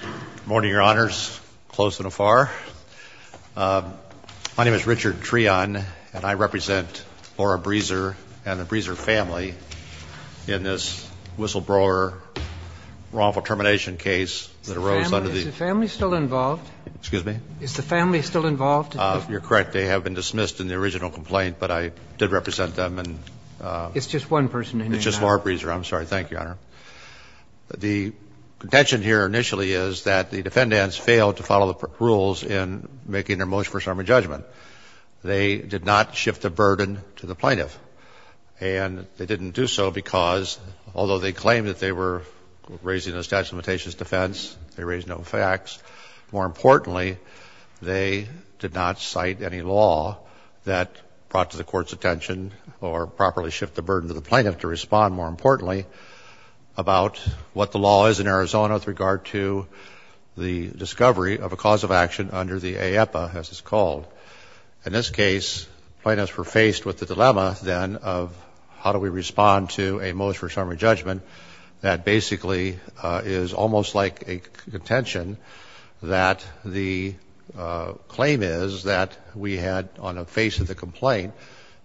Good morning, your honors. Close and afar. My name is Richard Treon and I represent Laura Breeser and the Breeser family in this whistleblower wrongful termination case that arose under the... Is the family still involved? Excuse me? Is the family still involved? You're correct. They have been dismissed in the original complaint but I did represent them and... It's just one person? It's just Laura Breeser. I'm sorry. Thank you, your honor. The contention here initially is that the defendants failed to follow the rules in making their motion for summary judgment. They did not shift the burden to the plaintiff and they didn't do so because although they claimed that they were raising a statute of limitations defense, they raised no facts. More importantly, they did not cite any law that brought to the court's attention or properly shift the burden to the plaintiff to respond. More importantly, about what the law is in Arizona with regard to the discovery of a cause of action under the AEPA as it's called. In this case, plaintiffs were faced with the dilemma then of how do we respond to a motion for summary judgment that basically is almost like a contention that the claim is that we had on the face of the complaint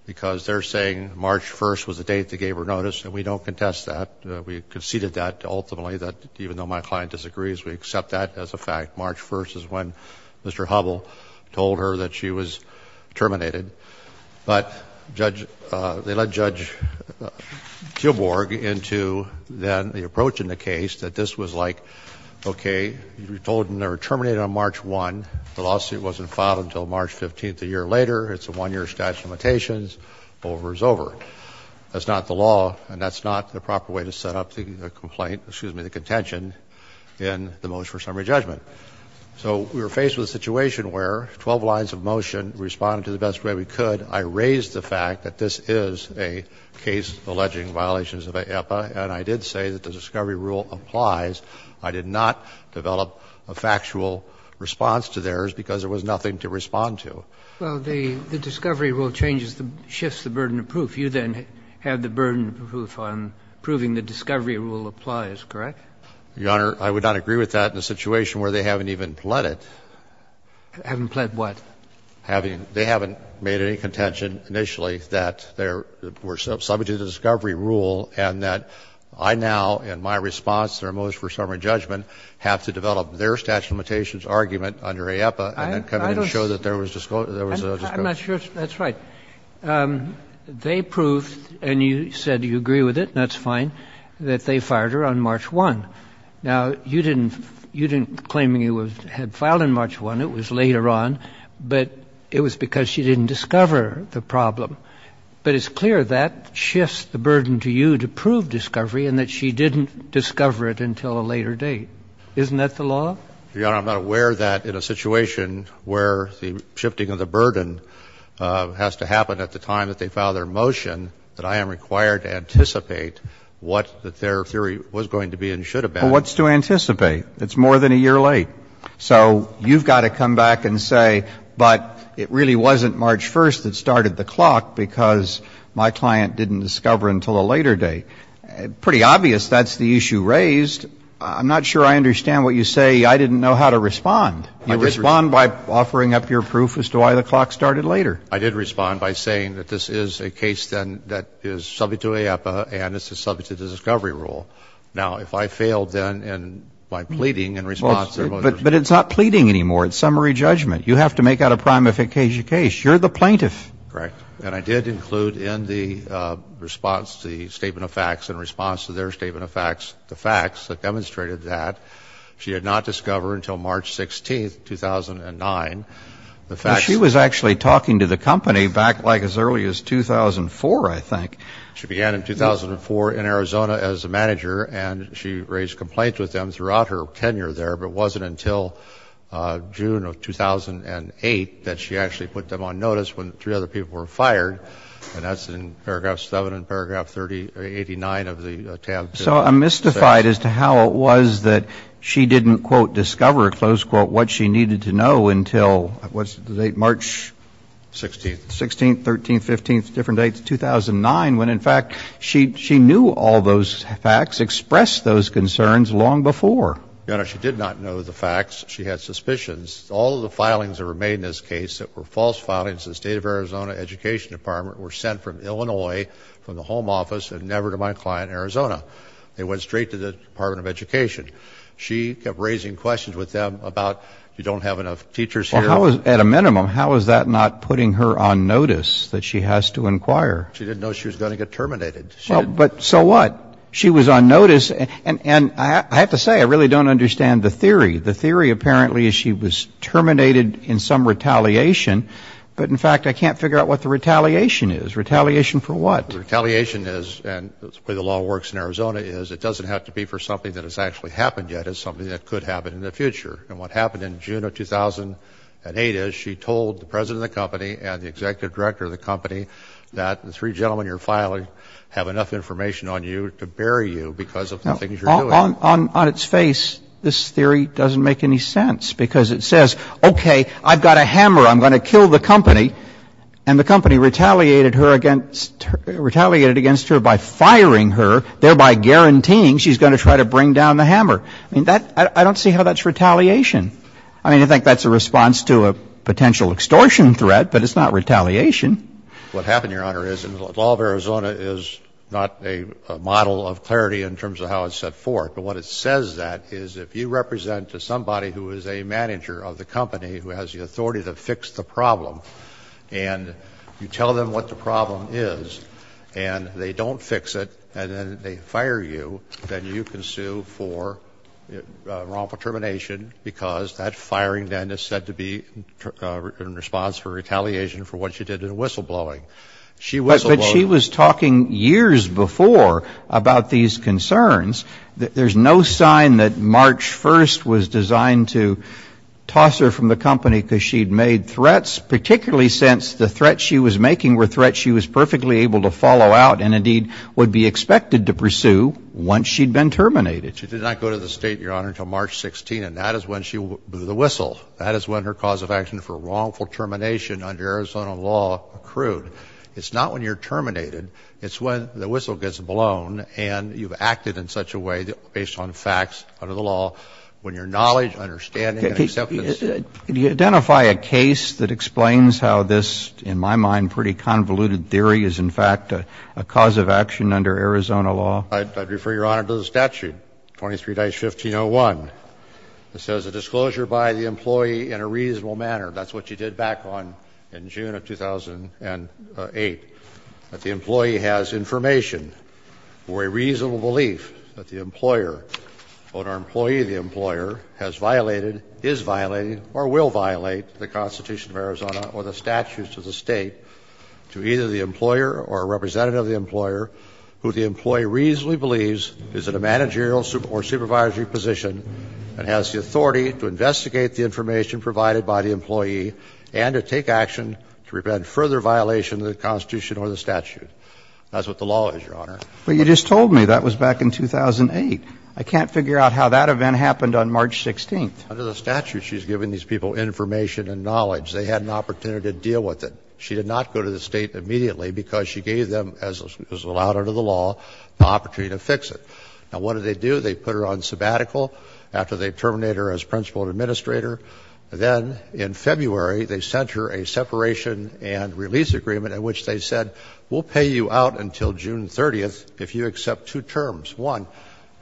because they're saying March 1st was the date they gave her notice and we don't contest that. We conceded that ultimately that even though my client disagrees, we accept that as a fact. March 1st is when Mr. Hubbell told her that she was terminated. But Judge, they let Judge Tilburg into then the approach in the case that this was like, okay, you were told they were terminated on March 1. The lawsuit wasn't filed until March 15th, a year before. That's not the law and that's not the proper way to set up the complaint or, excuse me, the contention in the motion for summary judgment. So we were faced with a situation where 12 lines of motion responded to the best way we could. I raise the fact that this is a case alleging violations of AEPA, and I did say that the discovery rule applies. I did not develop a factual response to theirs because there was nothing to respond to. Well, the discovery rule changes, shifts the burden of proof. You then have the burden of proof on proving the discovery rule applies, correct? Your Honor, I would not agree with that in a situation where they haven't even pled it. Haven't pled what? They haven't made any contention initially that there were subject to the discovery rule and that I now, in my response to their motion for summary judgment, have to develop their statute of limitations argument under AEPA and then come in and show that there was a discovery. I'm not sure if that's right. They proved, and you said you agree with it, and that's fine, that they fired her on March 1. Now, you didn't claim you had filed on March 1. It was later on, but it was because she didn't discover the problem. But it's clear that shifts the burden to you to prove discovery and that she didn't discover it until a later date. Isn't that the law? Your Honor, I'm not aware that in a situation where the shifting of the burden has to happen at the time that they file their motion, that I am required to anticipate what their theory was going to be and should have been. Well, what's to anticipate? It's more than a year late. So you've got to come back and say, but it really wasn't March 1 that started the clock because my client didn't discover until a later date. Pretty obvious that's the issue raised. I'm not sure I didn't know how to respond. You respond by offering up your proof as to why the clock started later. I did respond by saying that this is a case, then, that is subject to AEPA, and this is subject to the discovery rule. Now, if I failed, then, and by pleading in response to their motion... But it's not pleading anymore. It's summary judgment. You have to make out a prima facie case. You're the plaintiff. Correct. And I did include in the response, the statement of facts in response to their statement of facts, the facts that demonstrated that she had not discovered until March 16, 2009. The facts... She was actually talking to the company back, like, as early as 2004, I think. She began in 2004 in Arizona as a manager, and she raised complaints with them throughout her tenure there, but it wasn't until June of 2008 that she actually put them on notice when three other people were fired, and that's in paragraph 7 and paragraph 89 of the So, I'm mystified as to how it was that she didn't, quote, discover, close quote, what she needed to know until, what's the date, March... 16th. 16th, 13th, 15th, different dates, 2009, when in fact she knew all those facts, expressed those concerns long before. Your Honor, she did not know the facts. She had suspicions. All of the filings that were made in this case that were false filings to the State of Arizona Education Department were sent from Illinois, from the home office, and never to my client, Arizona. They went straight to the Department of Education. She kept raising questions with them about, you don't have enough teachers here... Well, at a minimum, how is that not putting her on notice that she has to inquire? She didn't know she was going to get terminated. But so what? She was on notice, and I have to say, I really don't understand the theory. The theory, apparently, is she was terminated in some retaliation, but in fact I can't figure out what the retaliation is. Retaliation for what? Retaliation is, and the way the law works in Arizona is, it doesn't have to be for something that has actually happened yet. It's something that could happen in the future. And what happened in June of 2008 is she told the president of the company and the executive director of the company that the three gentlemen you're filing have enough information on you to bury you because of the things you're doing. On its face, this theory doesn't make any sense, because it says, okay, I've got a hammer, I'm going to kill the company, and the company retaliated her against her by firing her, thereby guaranteeing she's going to try to bring down the hammer. I mean, that — I don't see how that's retaliation. I mean, I think that's a response to a potential extortion threat, but it's not retaliation. What happened, Your Honor, is — and the law of Arizona is not a model of clarity in terms of how it's set forth, but what it says that is if you represent somebody who is a manager of the company who has the authority to fix the problem, and you tell them what the problem is, and they don't fix it, and then they fire you, then you can sue for wrongful termination, because that firing then is said to be in response for retaliation for what she did in whistleblowing. She whistleblowed — But she was talking years before about these concerns. There's no sign that March 1st was designed to toss her from the company because she'd made threats, particularly since the threats she was making were threats she was perfectly able to follow out and indeed would be expected to pursue once she'd been terminated. She did not go to the State, Your Honor, until March 16th, and that is when she blew the whistle. That is when her cause of action for wrongful termination under Arizona law accrued. It's not when you're terminated. It's when the whistle gets blown, and you've facts under the law, when your knowledge, understanding, and acceptance of the facts under the law. Can you identify a case that explains how this, in my mind, pretty convoluted theory is in fact a cause of action under Arizona law? I'd refer Your Honor to the statute, 23-1501. It says a disclosure by the employee in a reasonable manner. That's what you did back on in June of 2008, that the employee has information or a reasonable belief that the employer or an employee of the employer has violated, is violating, or will violate the Constitution of Arizona or the statutes of the State to either the employer or a representative of the employer who the employee reasonably believes is in a managerial or supervisory position and has the authority to investigate the information provided by the employee and to take action to prevent further violation of the Constitution or the statute. That's what the law is, Your Honor. But you just told me that was back in 2008. I can't figure out how that event happened on March 16th. Under the statute, she's given these people information and knowledge. They had an opportunity to deal with it. She did not go to the State immediately because she gave them, as was allowed under the law, the opportunity to fix it. Now, what did they do? They put her on sabbatical after they terminated her as principal administrator. Then, in February, they sent her a separation and release agreement in which they said, we'll pay you out until June 30th if you accept two terms. One,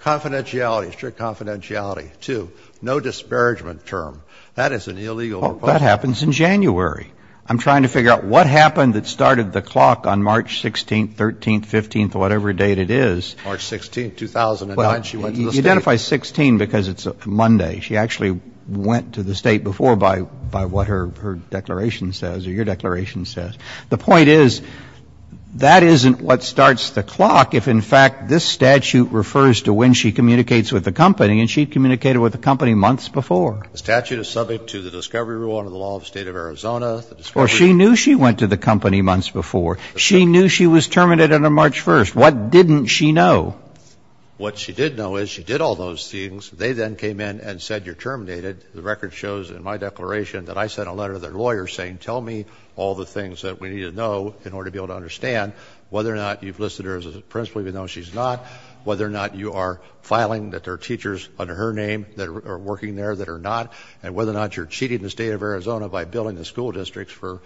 confidentiality, strict confidentiality. Two, no disparagement term. That is an illegal requirement. Well, that happens in January. I'm trying to figure out what happened that started the clock on March 16th, 13th, 15th, or whatever date it is. She identifies 16 because it's Monday. She actually went to the State before by what her declaration says, or your declaration says. The point is, that isn't what starts the clock if, in fact, this statute refers to when she communicates with the company and she communicated with the company months before. The statute is subject to the discovery rule under the law of the State of Arizona. Well, she knew she went to the company months before. She knew she was terminated on March 1st. What didn't she know? What she did know is, she did all those things. They then came in and said, you're terminated. The record shows in my declaration that I sent a letter to their lawyer saying, tell me all the things that we need to know in order to be able to understand whether or not you've listed her as a principal even though she's not, whether or not you are filing that there are teachers under her name that are working there that are not, and whether or not you're cheating the State of Arizona by billing the school districts for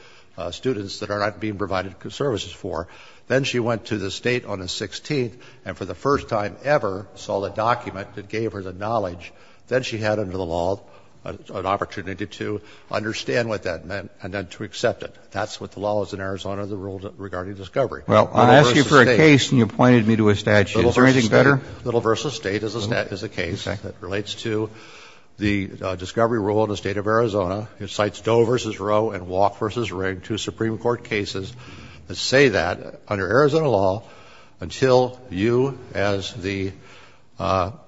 students that are not being provided services for. Then she went to the State on the 16th and for the first time ever saw the document that gave her the knowledge. Then she had under the law an opportunity to understand what that meant and then to accept it. That's what the law is in Arizona, the rule regarding discovery. Roberts. Well, I asked you for a case and you pointed me to a statute. Is there anything better? Little v. State is a case that relates to the discovery rule in the State of Arizona. It cites Doe v. Rowe and Walk v. Ring, two Supreme Court cases that say that under Arizona law, until you as the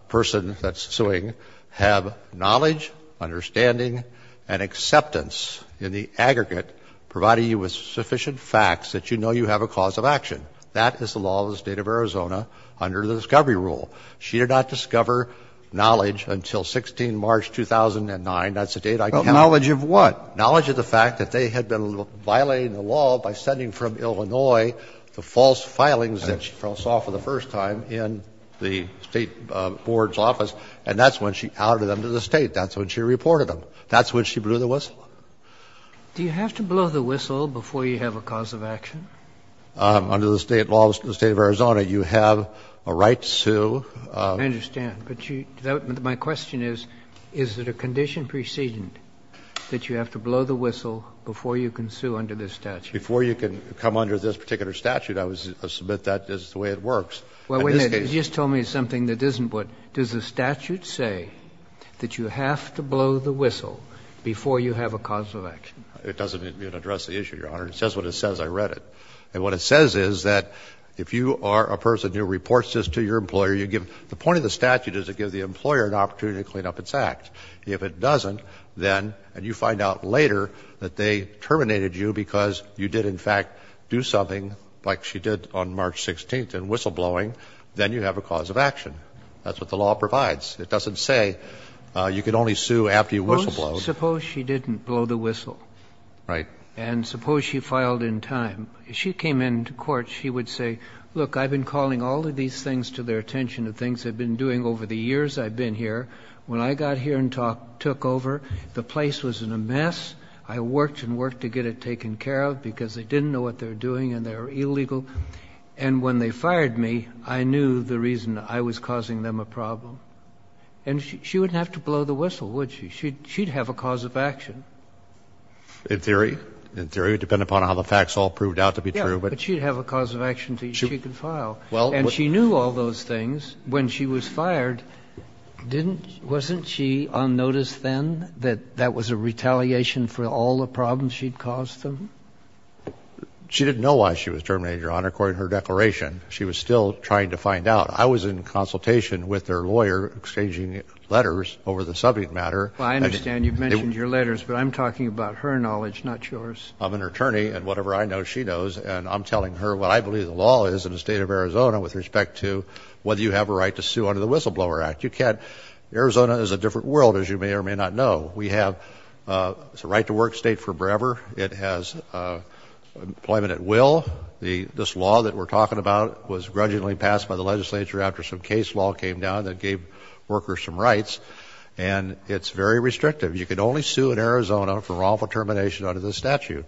person that's suing have knowledge, understanding and acceptance in the aggregate providing you with sufficient facts that you know you have a cause of action. That is the law of the State of Arizona under the discovery rule. She did not discover knowledge until 16 March 2009. That's a date I cannot And she had no knowledge of what? Knowledge of the fact that they had been violating the law by sending from Illinois the false filings that she saw for the first time in the State board's office, and that's when she outed them to the State. That's when she reported them. That's when she blew the whistle. Do you have to blow the whistle before you have a cause of action? Under the State law of the State of Arizona, you have a right to sue. I understand, but my question is, is it a condition preceding that you have to blow the whistle before you can sue under this statute? Before you can come under this particular statute, I would submit that is the way it works. Well, wait a minute. You just told me something that isn't what. Does the statute say that you have to blow the whistle before you have a cause of action? It doesn't address the issue, Your Honor. It says what it says. I read it. And what it says is that if you are a person who reports this to your employer, you give the point of the statute is to give the employer an opportunity to clean up its act. If it doesn't, then, and you find out later that they terminated you because you did, in fact, do something like she did on March 16th in whistleblowing, then you have a cause of action. That's what the law provides. It doesn't say you can only sue after you whistleblow. Suppose she didn't blow the whistle. Right. And suppose she filed in time. If she came into court, she would say, look, I've been calling all of these things to their attention, the things they've been doing over the years I've been here. When I got here and took over, the place was in a mess. I worked and worked to get it taken care of because they didn't know what they were doing and they were illegal. And when they fired me, I knew the reason I was causing them a problem. And she wouldn't have to blow the whistle, would she? She'd have a cause of action. In theory. In theory. It would depend upon how the facts all proved out to be true. But she'd have a cause of action that she could file. And she knew all those things when she was fired. Didn't she, wasn't she on notice then that that was a retaliation for all the problems she'd caused them? She didn't know why she was terminated, Your Honor, according to her declaration. She was still trying to find out. I was in consultation with her lawyer exchanging letters over the subject matter. Well, I understand you've mentioned your letters, but I'm talking about her knowledge, not yours. I'm an attorney, and whatever I know, she knows. And I'm telling her what I believe the law is in the State of Arizona with respect to whether you have a right to sue under the Whistleblower Act. You can't. Arizona is a different world, as you may or may not know. We have the right to work state forever. It has employment at will. This law that we're talking about was grudgingly passed by the legislature after some case law came down that gave workers some rights, and it's very restrictive. You can only sue in Arizona for wrongful termination under this statute.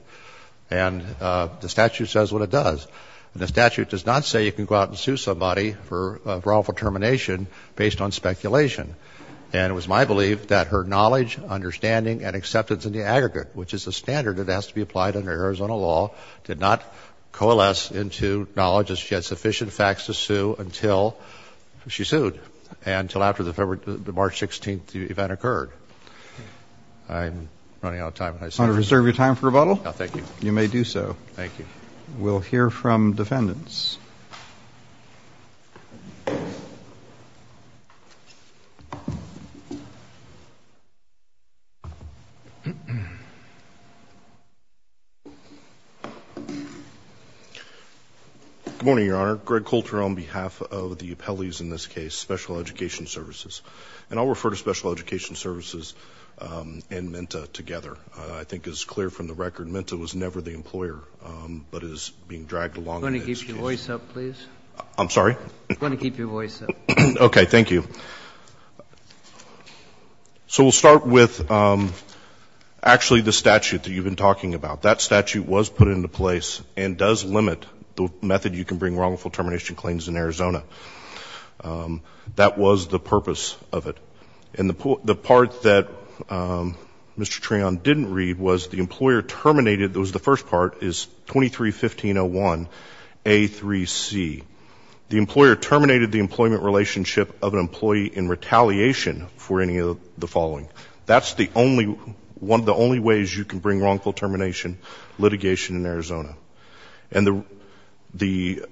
And the statute says what it does. And the statute does not say you can go out and sue somebody for wrongful termination based on speculation. And it was my belief that her knowledge, understanding, and acceptance in the aggregate, which is the standard that has to be applied under Arizona law, did not coalesce into knowledge that she had sufficient facts to sue until she sued. And until after the March 16th event occurred. I'm running out of time. You want to reserve your time for rebuttal? No, thank you. You may do so. Thank you. We'll hear from defendants. Good morning, Your Honor. Greg Coulter on behalf of the appellees in this case, Special Education Services. And I'll refer to Special Education Services and MENTA together. I think it's clear from the record MENTA was never the employer, but is being dragged along in this case. Can you keep your voice up, please? I'm sorry? Can you keep your voice up? Okay. Thank you. So we'll start with actually the statute that you've been talking about. That statute was put into place and does limit the method you can bring wrongful termination claims in Arizona. That was the purpose of it. And the part that Mr. Treon didn't read was the employer terminated, that was the first part, is 23-1501A3C. The employer terminated the employment relationship of an employee in retaliation for any of the following. That's the only one of the only ways you can bring wrongful termination litigation in Arizona. And the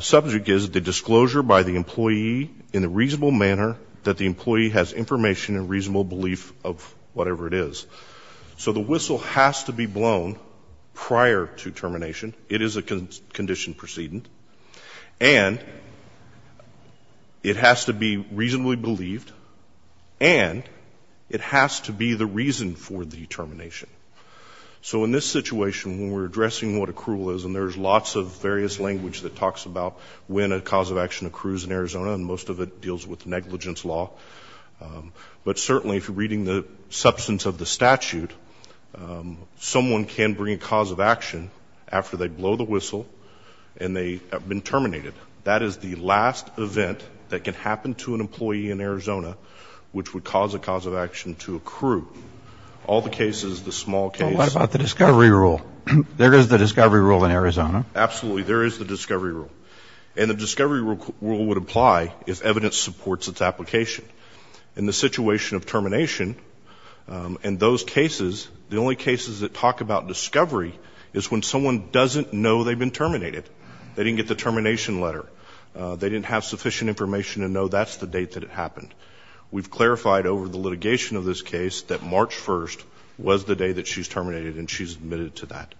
subject is the disclosure by the employee in a reasonable manner that the employee has information and reasonable belief of whatever it is. So the whistle has to be blown prior to termination. It is a condition precedent. And it has to be reasonably believed and it has to be the reason for the termination. So in this situation, when we're addressing what accrual is, and there's lots of various language that talks about when a cause of action accrues in Arizona, and most of it deals with negligence law, but certainly if you're reading the substance of the statute, someone can bring a cause of action after they blow the whistle and they have been terminated. That is the last event that can happen to an employee in Arizona which would cause a cause of action to accrue. All the cases, the small cases. Well, what about the discovery rule? There is the discovery rule in Arizona. Absolutely. There is the discovery rule. And the discovery rule would apply if evidence supports its application. In the situation of termination, in those cases, the only cases that talk about They didn't get the termination letter. They didn't have sufficient information to know that's the date that it happened. We've clarified over the litigation of this case that March 1st was the day that she's terminated and she's admitted to that.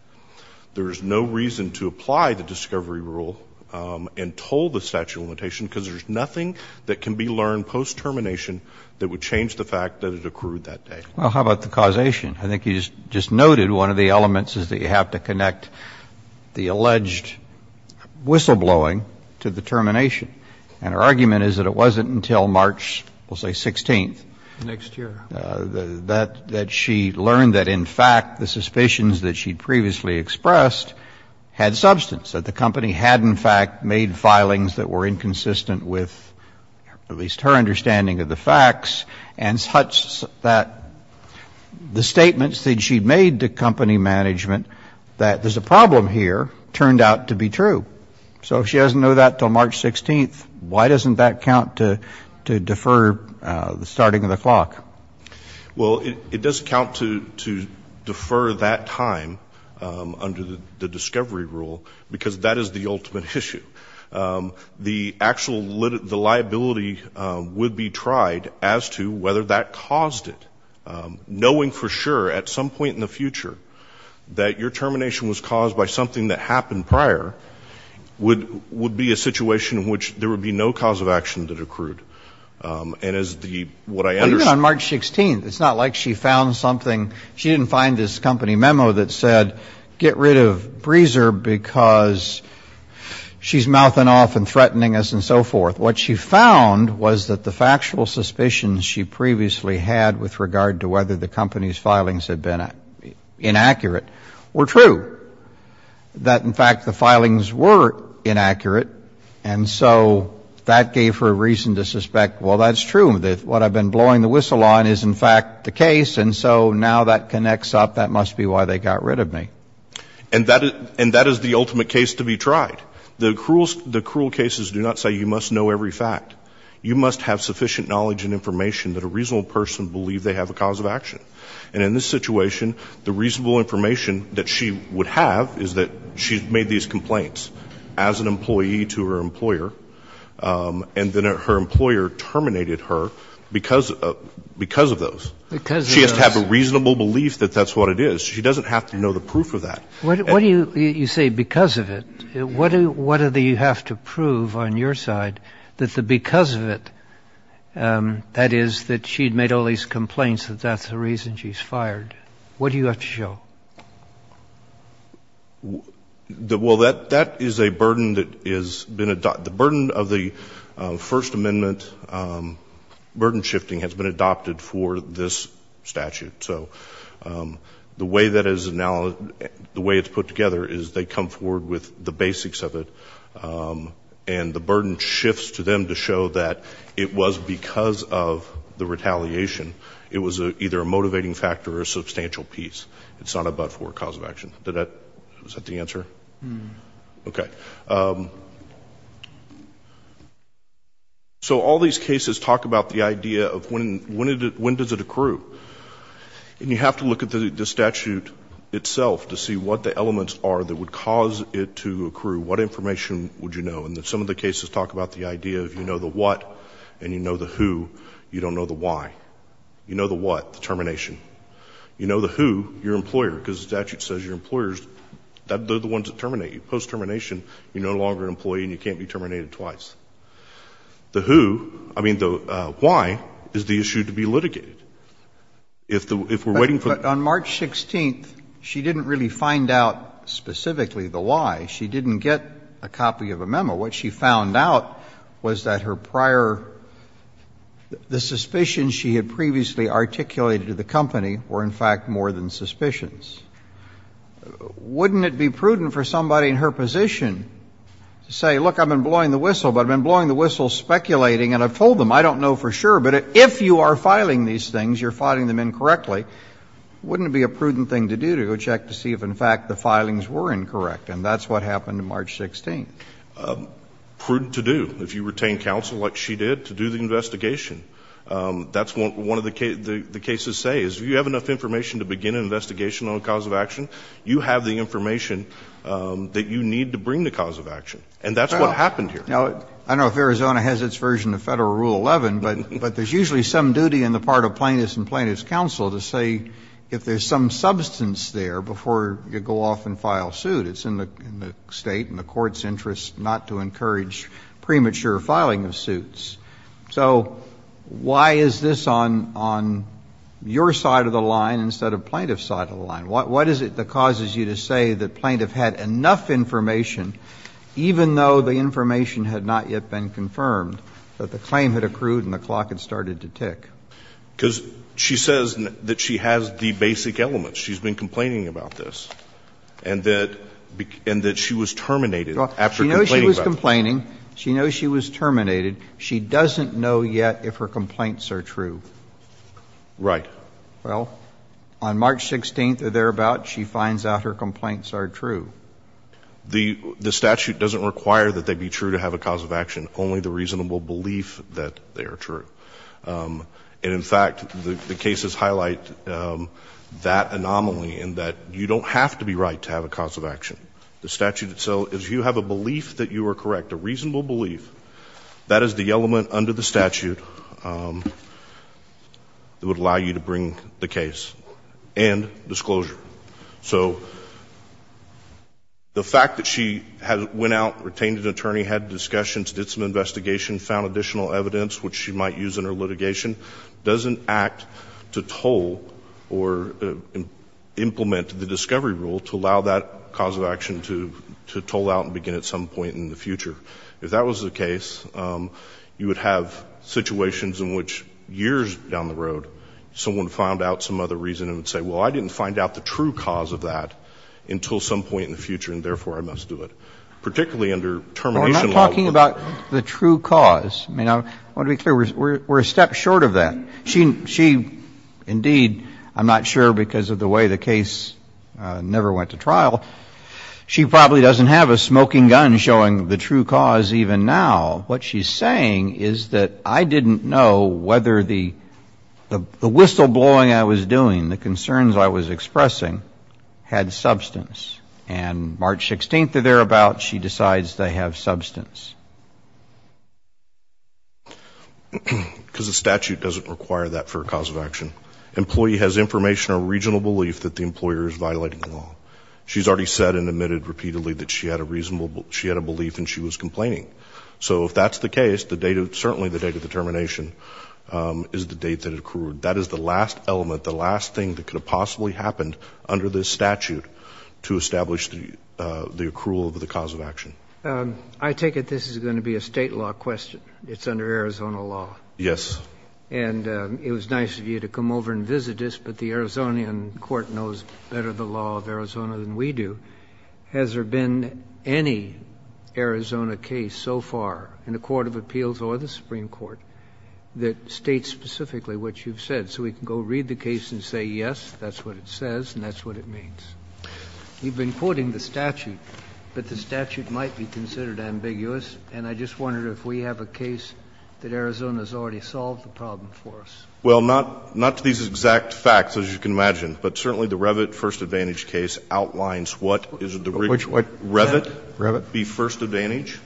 There is no reason to apply the discovery rule and toll the statute of limitation because there's nothing that can be learned post-termination that would change the fact that it accrued that day. Well, how about the causation? I think you just noted one of the elements is that you have to connect the alleged whistleblowing to the termination. And her argument is that it wasn't until March, we'll say, 16th. Next year. That she learned that, in fact, the suspicions that she'd previously expressed had substance, that the company had, in fact, made filings that were inconsistent with at least her understanding of the facts and such that the state statements that she'd made to company management that there's a problem here turned out to be true. So if she doesn't know that until March 16th, why doesn't that count to defer the starting of the clock? Well, it does count to defer that time under the discovery rule because that is the ultimate issue. The actual liability would be tried as to whether that caused it. Knowing for sure at some point in the future that your termination was caused by something that happened prior would be a situation in which there would be no cause of action that accrued. And as the, what I understand. Even on March 16th, it's not like she found something. She didn't find this company memo that said get rid of Breezer because she's mouthing off and threatening us and so forth. What she found was that the factual suspicions she previously had with regard to whether the company's filings had been inaccurate were true. That, in fact, the filings were inaccurate. And so that gave her a reason to suspect, well, that's true. What I've been blowing the whistle on is, in fact, the case. And so now that connects up. That must be why they got rid of me. And that is the ultimate case to be tried. The cruel cases do not say you must know every fact. You must have sufficient knowledge and information that a reasonable person believe they have a cause of action. And in this situation, the reasonable information that she would have is that she made these complaints as an employee to her employer, and then her employer terminated her because of those. She has to have a reasonable belief that that's what it is. She doesn't have to know the proof of that. What do you say because of it? What do you have to prove on your side that the because of it, that is, that she had made all these complaints, that that's the reason she's fired? What do you have to show? Well, that is a burden that has been adopted. The burden of the First Amendment burden shifting has been adopted for this statute. So the way that it's put together is they come forward with the basics of it, and the burden shifts to them to show that it was because of the retaliation. It was either a motivating factor or a substantial piece. It's not a but-for cause of action. Is that the answer? Okay. So all these cases talk about the idea of when does it accrue. And you have to look at the statute itself to see what the elements are that would cause it to accrue, what information would you know. And some of the cases talk about the idea of you know the what and you know the who, you don't know the why. You know the what, the termination. You know the who, your employer, because the statute says your employers, they're the ones that terminate you. So post-termination, you're no longer an employee and you can't be terminated twice. The who, I mean the why, is the issue to be litigated. If we're waiting for the---- But on March 16th, she didn't really find out specifically the why. She didn't get a copy of a memo. What she found out was that her prior, the suspicions she had previously articulated to the company were, in fact, more than suspicions. Wouldn't it be prudent for somebody in her position to say, look, I've been blowing the whistle, but I've been blowing the whistle speculating, and I've told them, I don't know for sure, but if you are filing these things, you're filing them incorrectly, wouldn't it be a prudent thing to do to go check to see if, in fact, the filings were incorrect? And that's what happened on March 16th. Prudent to do, if you retain counsel like she did, to do the investigation. That's what one of the cases say, is if you have enough information to begin an investigation on a cause of action, you have the information that you need to bring the cause of action. And that's what happened here. Now, I don't know if Arizona has its version of Federal Rule 11, but there's usually some duty on the part of plaintiffs and plaintiffs' counsel to say if there's some substance there before you go off and file suit. It's in the state and the court's interest not to encourage premature filing of suits. So why is this on your side of the line instead of plaintiff's side of the line? What is it that causes you to say that plaintiff had enough information, even though the information had not yet been confirmed, that the claim had accrued and the clock had started to tick? Because she says that she has the basic elements. She's been complaining about this. And that she was terminated after complaining about this. She knows she was complaining. She knows she was terminated. She doesn't know yet if her complaints are true. Right. Well, on March 16th or thereabout, she finds out her complaints are true. The statute doesn't require that they be true to have a cause of action, only the reasonable belief that they are true. And, in fact, the cases highlight that anomaly in that you don't have to be right to have a cause of action. Reasonable belief. That is the element under the statute that would allow you to bring the case. And disclosure. So the fact that she went out, retained an attorney, had discussions, did some investigation, found additional evidence, which she might use in her litigation, doesn't act to toll or implement the discovery rule to allow that cause of action to toll out and begin at some point in the future. If that was the case, you would have situations in which years down the road someone found out some other reason and would say, well, I didn't find out the true cause of that until some point in the future, and therefore I must do it, particularly under termination law. We're not talking about the true cause. I mean, I want to be clear. We're a step short of that. She, indeed, I'm not sure because of the way the case never went to trial, she probably doesn't have a smoking gun showing the true cause even now. What she's saying is that I didn't know whether the whistleblowing I was doing, the concerns I was expressing, had substance. And March 16th or thereabout, she decides they have substance. Because the statute doesn't require that for a cause of action. Employee has information or reasonable belief that the employer is violating the law. She's already said and admitted repeatedly that she had a reasonable, she had a belief and she was complaining. So if that's the case, the date of, certainly the date of the termination is the date that it occurred. That is the last element, the last thing that could have possibly happened under this statute to establish the accrual of the cause of action. I take it this is going to be a State law question. It's under Arizona law. Yes. And it was nice of you to come over and visit us, but the Arizonian court knows better the law of Arizona than we do. Has there been any Arizona case so far in the court of appeals or the Supreme Court that states specifically what you've said? So we can go read the case and say, yes, that's what it says and that's what it means. You've been quoting the statute, but the statute might be considered ambiguous, and I just wondered if we have a case that Arizona has already solved the problem for us. Well, not to these exact facts, as you can imagine, but certainly the Revit first advantage case outlines what is the right. Which one? Revit. Revit. The first advantage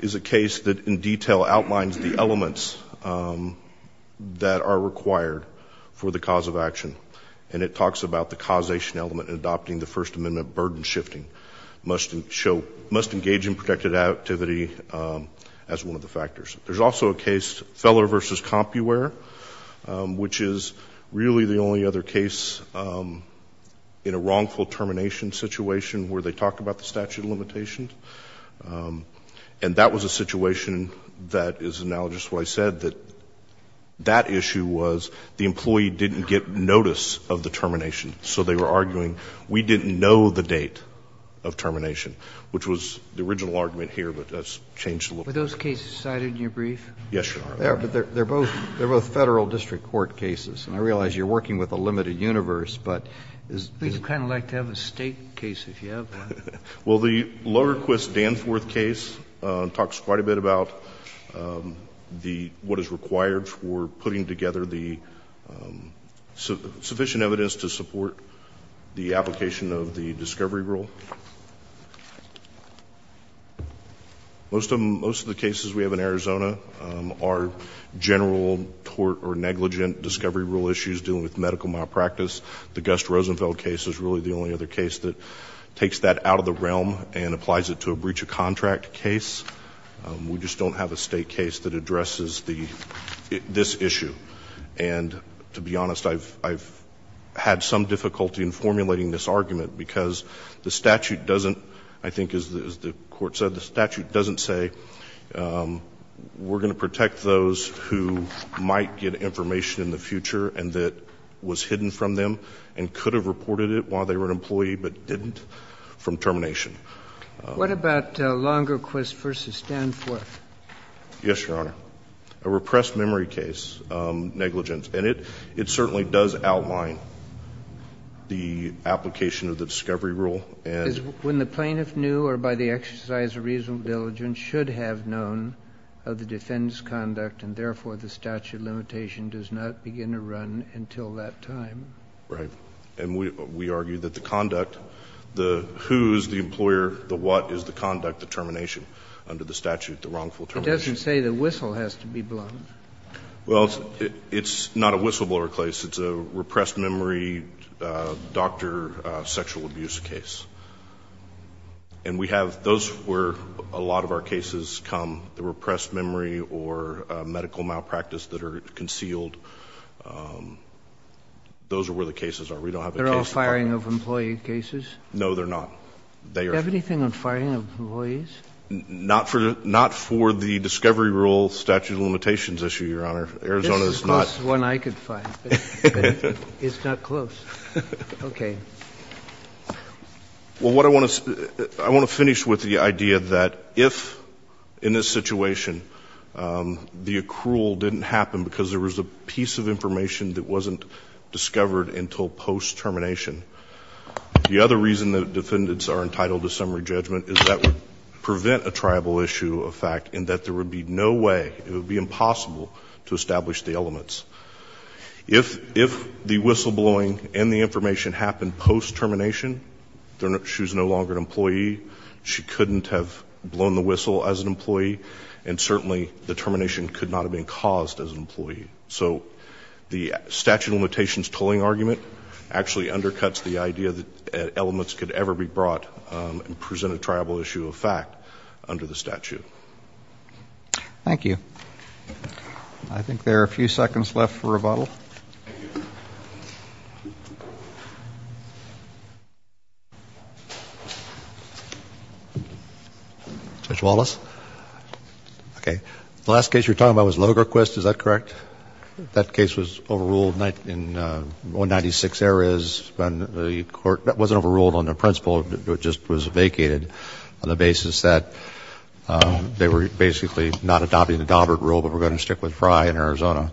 is a case that in detail outlines the elements that are required for the cause of action, and it talks about the causation element in adopting the First Amendment burden shifting, must engage in protected activity as one of the factors. There's also a case, Feller v. Compuwear, which is really the only other case in a wrongful termination situation where they talk about the statute of limitations. And that was a situation that is analogous to what I said, that that issue was the employee didn't get notice of the termination, so they were arguing we didn't know the date of termination, which was the original argument here, but that's changed a little bit. Were those cases cited in your brief? Yes, Your Honor. They're both Federal district court cases, and I realize you're working with a limited universe, but is the — I think you'd kind of like to have a State case if you have that. Well, the Loderquist-Danforth case talks quite a bit about the — what is required for putting together the sufficient evidence to support the application of the discovery rule. Most of the cases we have in Arizona are general tort or negligent discovery rule issues dealing with medical malpractice. The Gus Rosenfeld case is really the only other case that takes that out of the realm and applies it to a breach of contract case. We just don't have a State case that addresses this issue. And to be honest, I've had some difficulty in formulating this argument because the statute doesn't, I think as the Court said, the statute doesn't say we're going to protect those who might get information in the future and that was hidden from them and could have reported it while they were an employee but didn't from termination. What about Loderquist v. Danforth? Yes, Your Honor. A repressed memory case, negligence. And it certainly does outline the application of the discovery rule. And when the plaintiff knew or by the exercise of reasonable diligence should have known of the defendant's conduct and therefore the statute limitation does not begin to run until that time. Right. And we argue that the conduct, the who is the employer, the what is the conduct, the termination under the statute, the wrongful termination. It doesn't say the whistle has to be blown. Well, it's not a whistleblower case. It's a repressed memory doctor sexual abuse case. And we have those where a lot of our cases come, the repressed memory or medical malpractice that are concealed. Those are where the cases are. We don't have a case department. They're all firing of employee cases? No, they're not. They are. Do you have anything on firing of employees? Not for the discovery rule statute of limitations issue, Your Honor. Arizona is not. This is the closest one I could find. It's not close. Okay. Well, what I want to finish with the idea that if in this situation the accrual didn't happen because there was a piece of information that wasn't discovered until post-termination, the other reason that defendants are entitled to summary judgment is that would prevent a tribal issue of fact and that there would be no way, it would be impossible to establish the elements. If the whistleblowing and the information happened post-termination, she's no longer an employee, she couldn't have blown the whistle as an employee, and certainly the termination could not have been caused as an employee. So the statute of limitations tolling argument actually undercuts the idea that elements could ever be brought and present a tribal issue of fact under the statute. Thank you. I think there are a few seconds left for rebuttal. Judge Wallace? Okay. The last case you were talking about was Logarquist. Is that correct? That case was overruled in 196 areas when the court, it wasn't overruled on the principle, it just was vacated on the basis that they were basically not adopting the Daubert rule, but were going to stick with Frye in Arizona.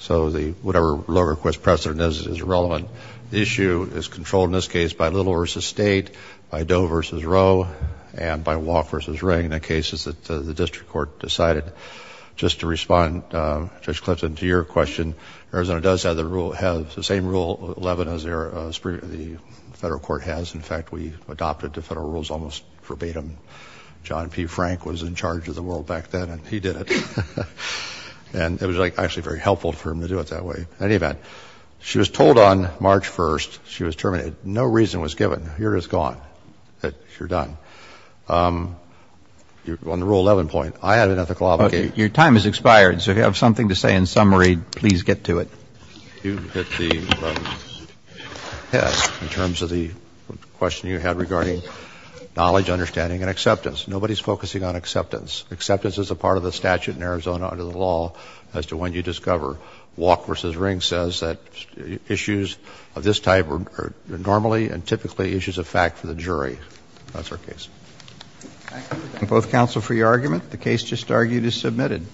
So the, whatever Logarquist precedent is, is relevant. The issue is controlled in this case by Little v. State, by Doe v. Roe, and by Walke v. Ring, the cases that the district court decided. Just to respond, Judge Clifton, to your question, Arizona does have the rule, has the same Rule 11 as the federal court has. In fact, we adopted the federal rules almost verbatim. John P. Frank was in charge of the world back then, and he did it. And it was actually very helpful for him to do it that way. In any event, she was told on March 1st, she was terminated. No reason was given. You're just gone. You're done. On the Rule 11 point, I have an ethical obligation. Okay. Your time has expired. So if you have something to say in summary, please get to it. You hit the head in terms of the question you had regarding knowledge, understanding, and acceptance. Nobody's focusing on acceptance. Acceptance is a part of the statute in Arizona under the law as to when you discover Walke v. Ring says that issues of this type are normally and typically issues of fact for the jury. That's our case. Thank you. And both counsel for your argument. The case just argued is submitted.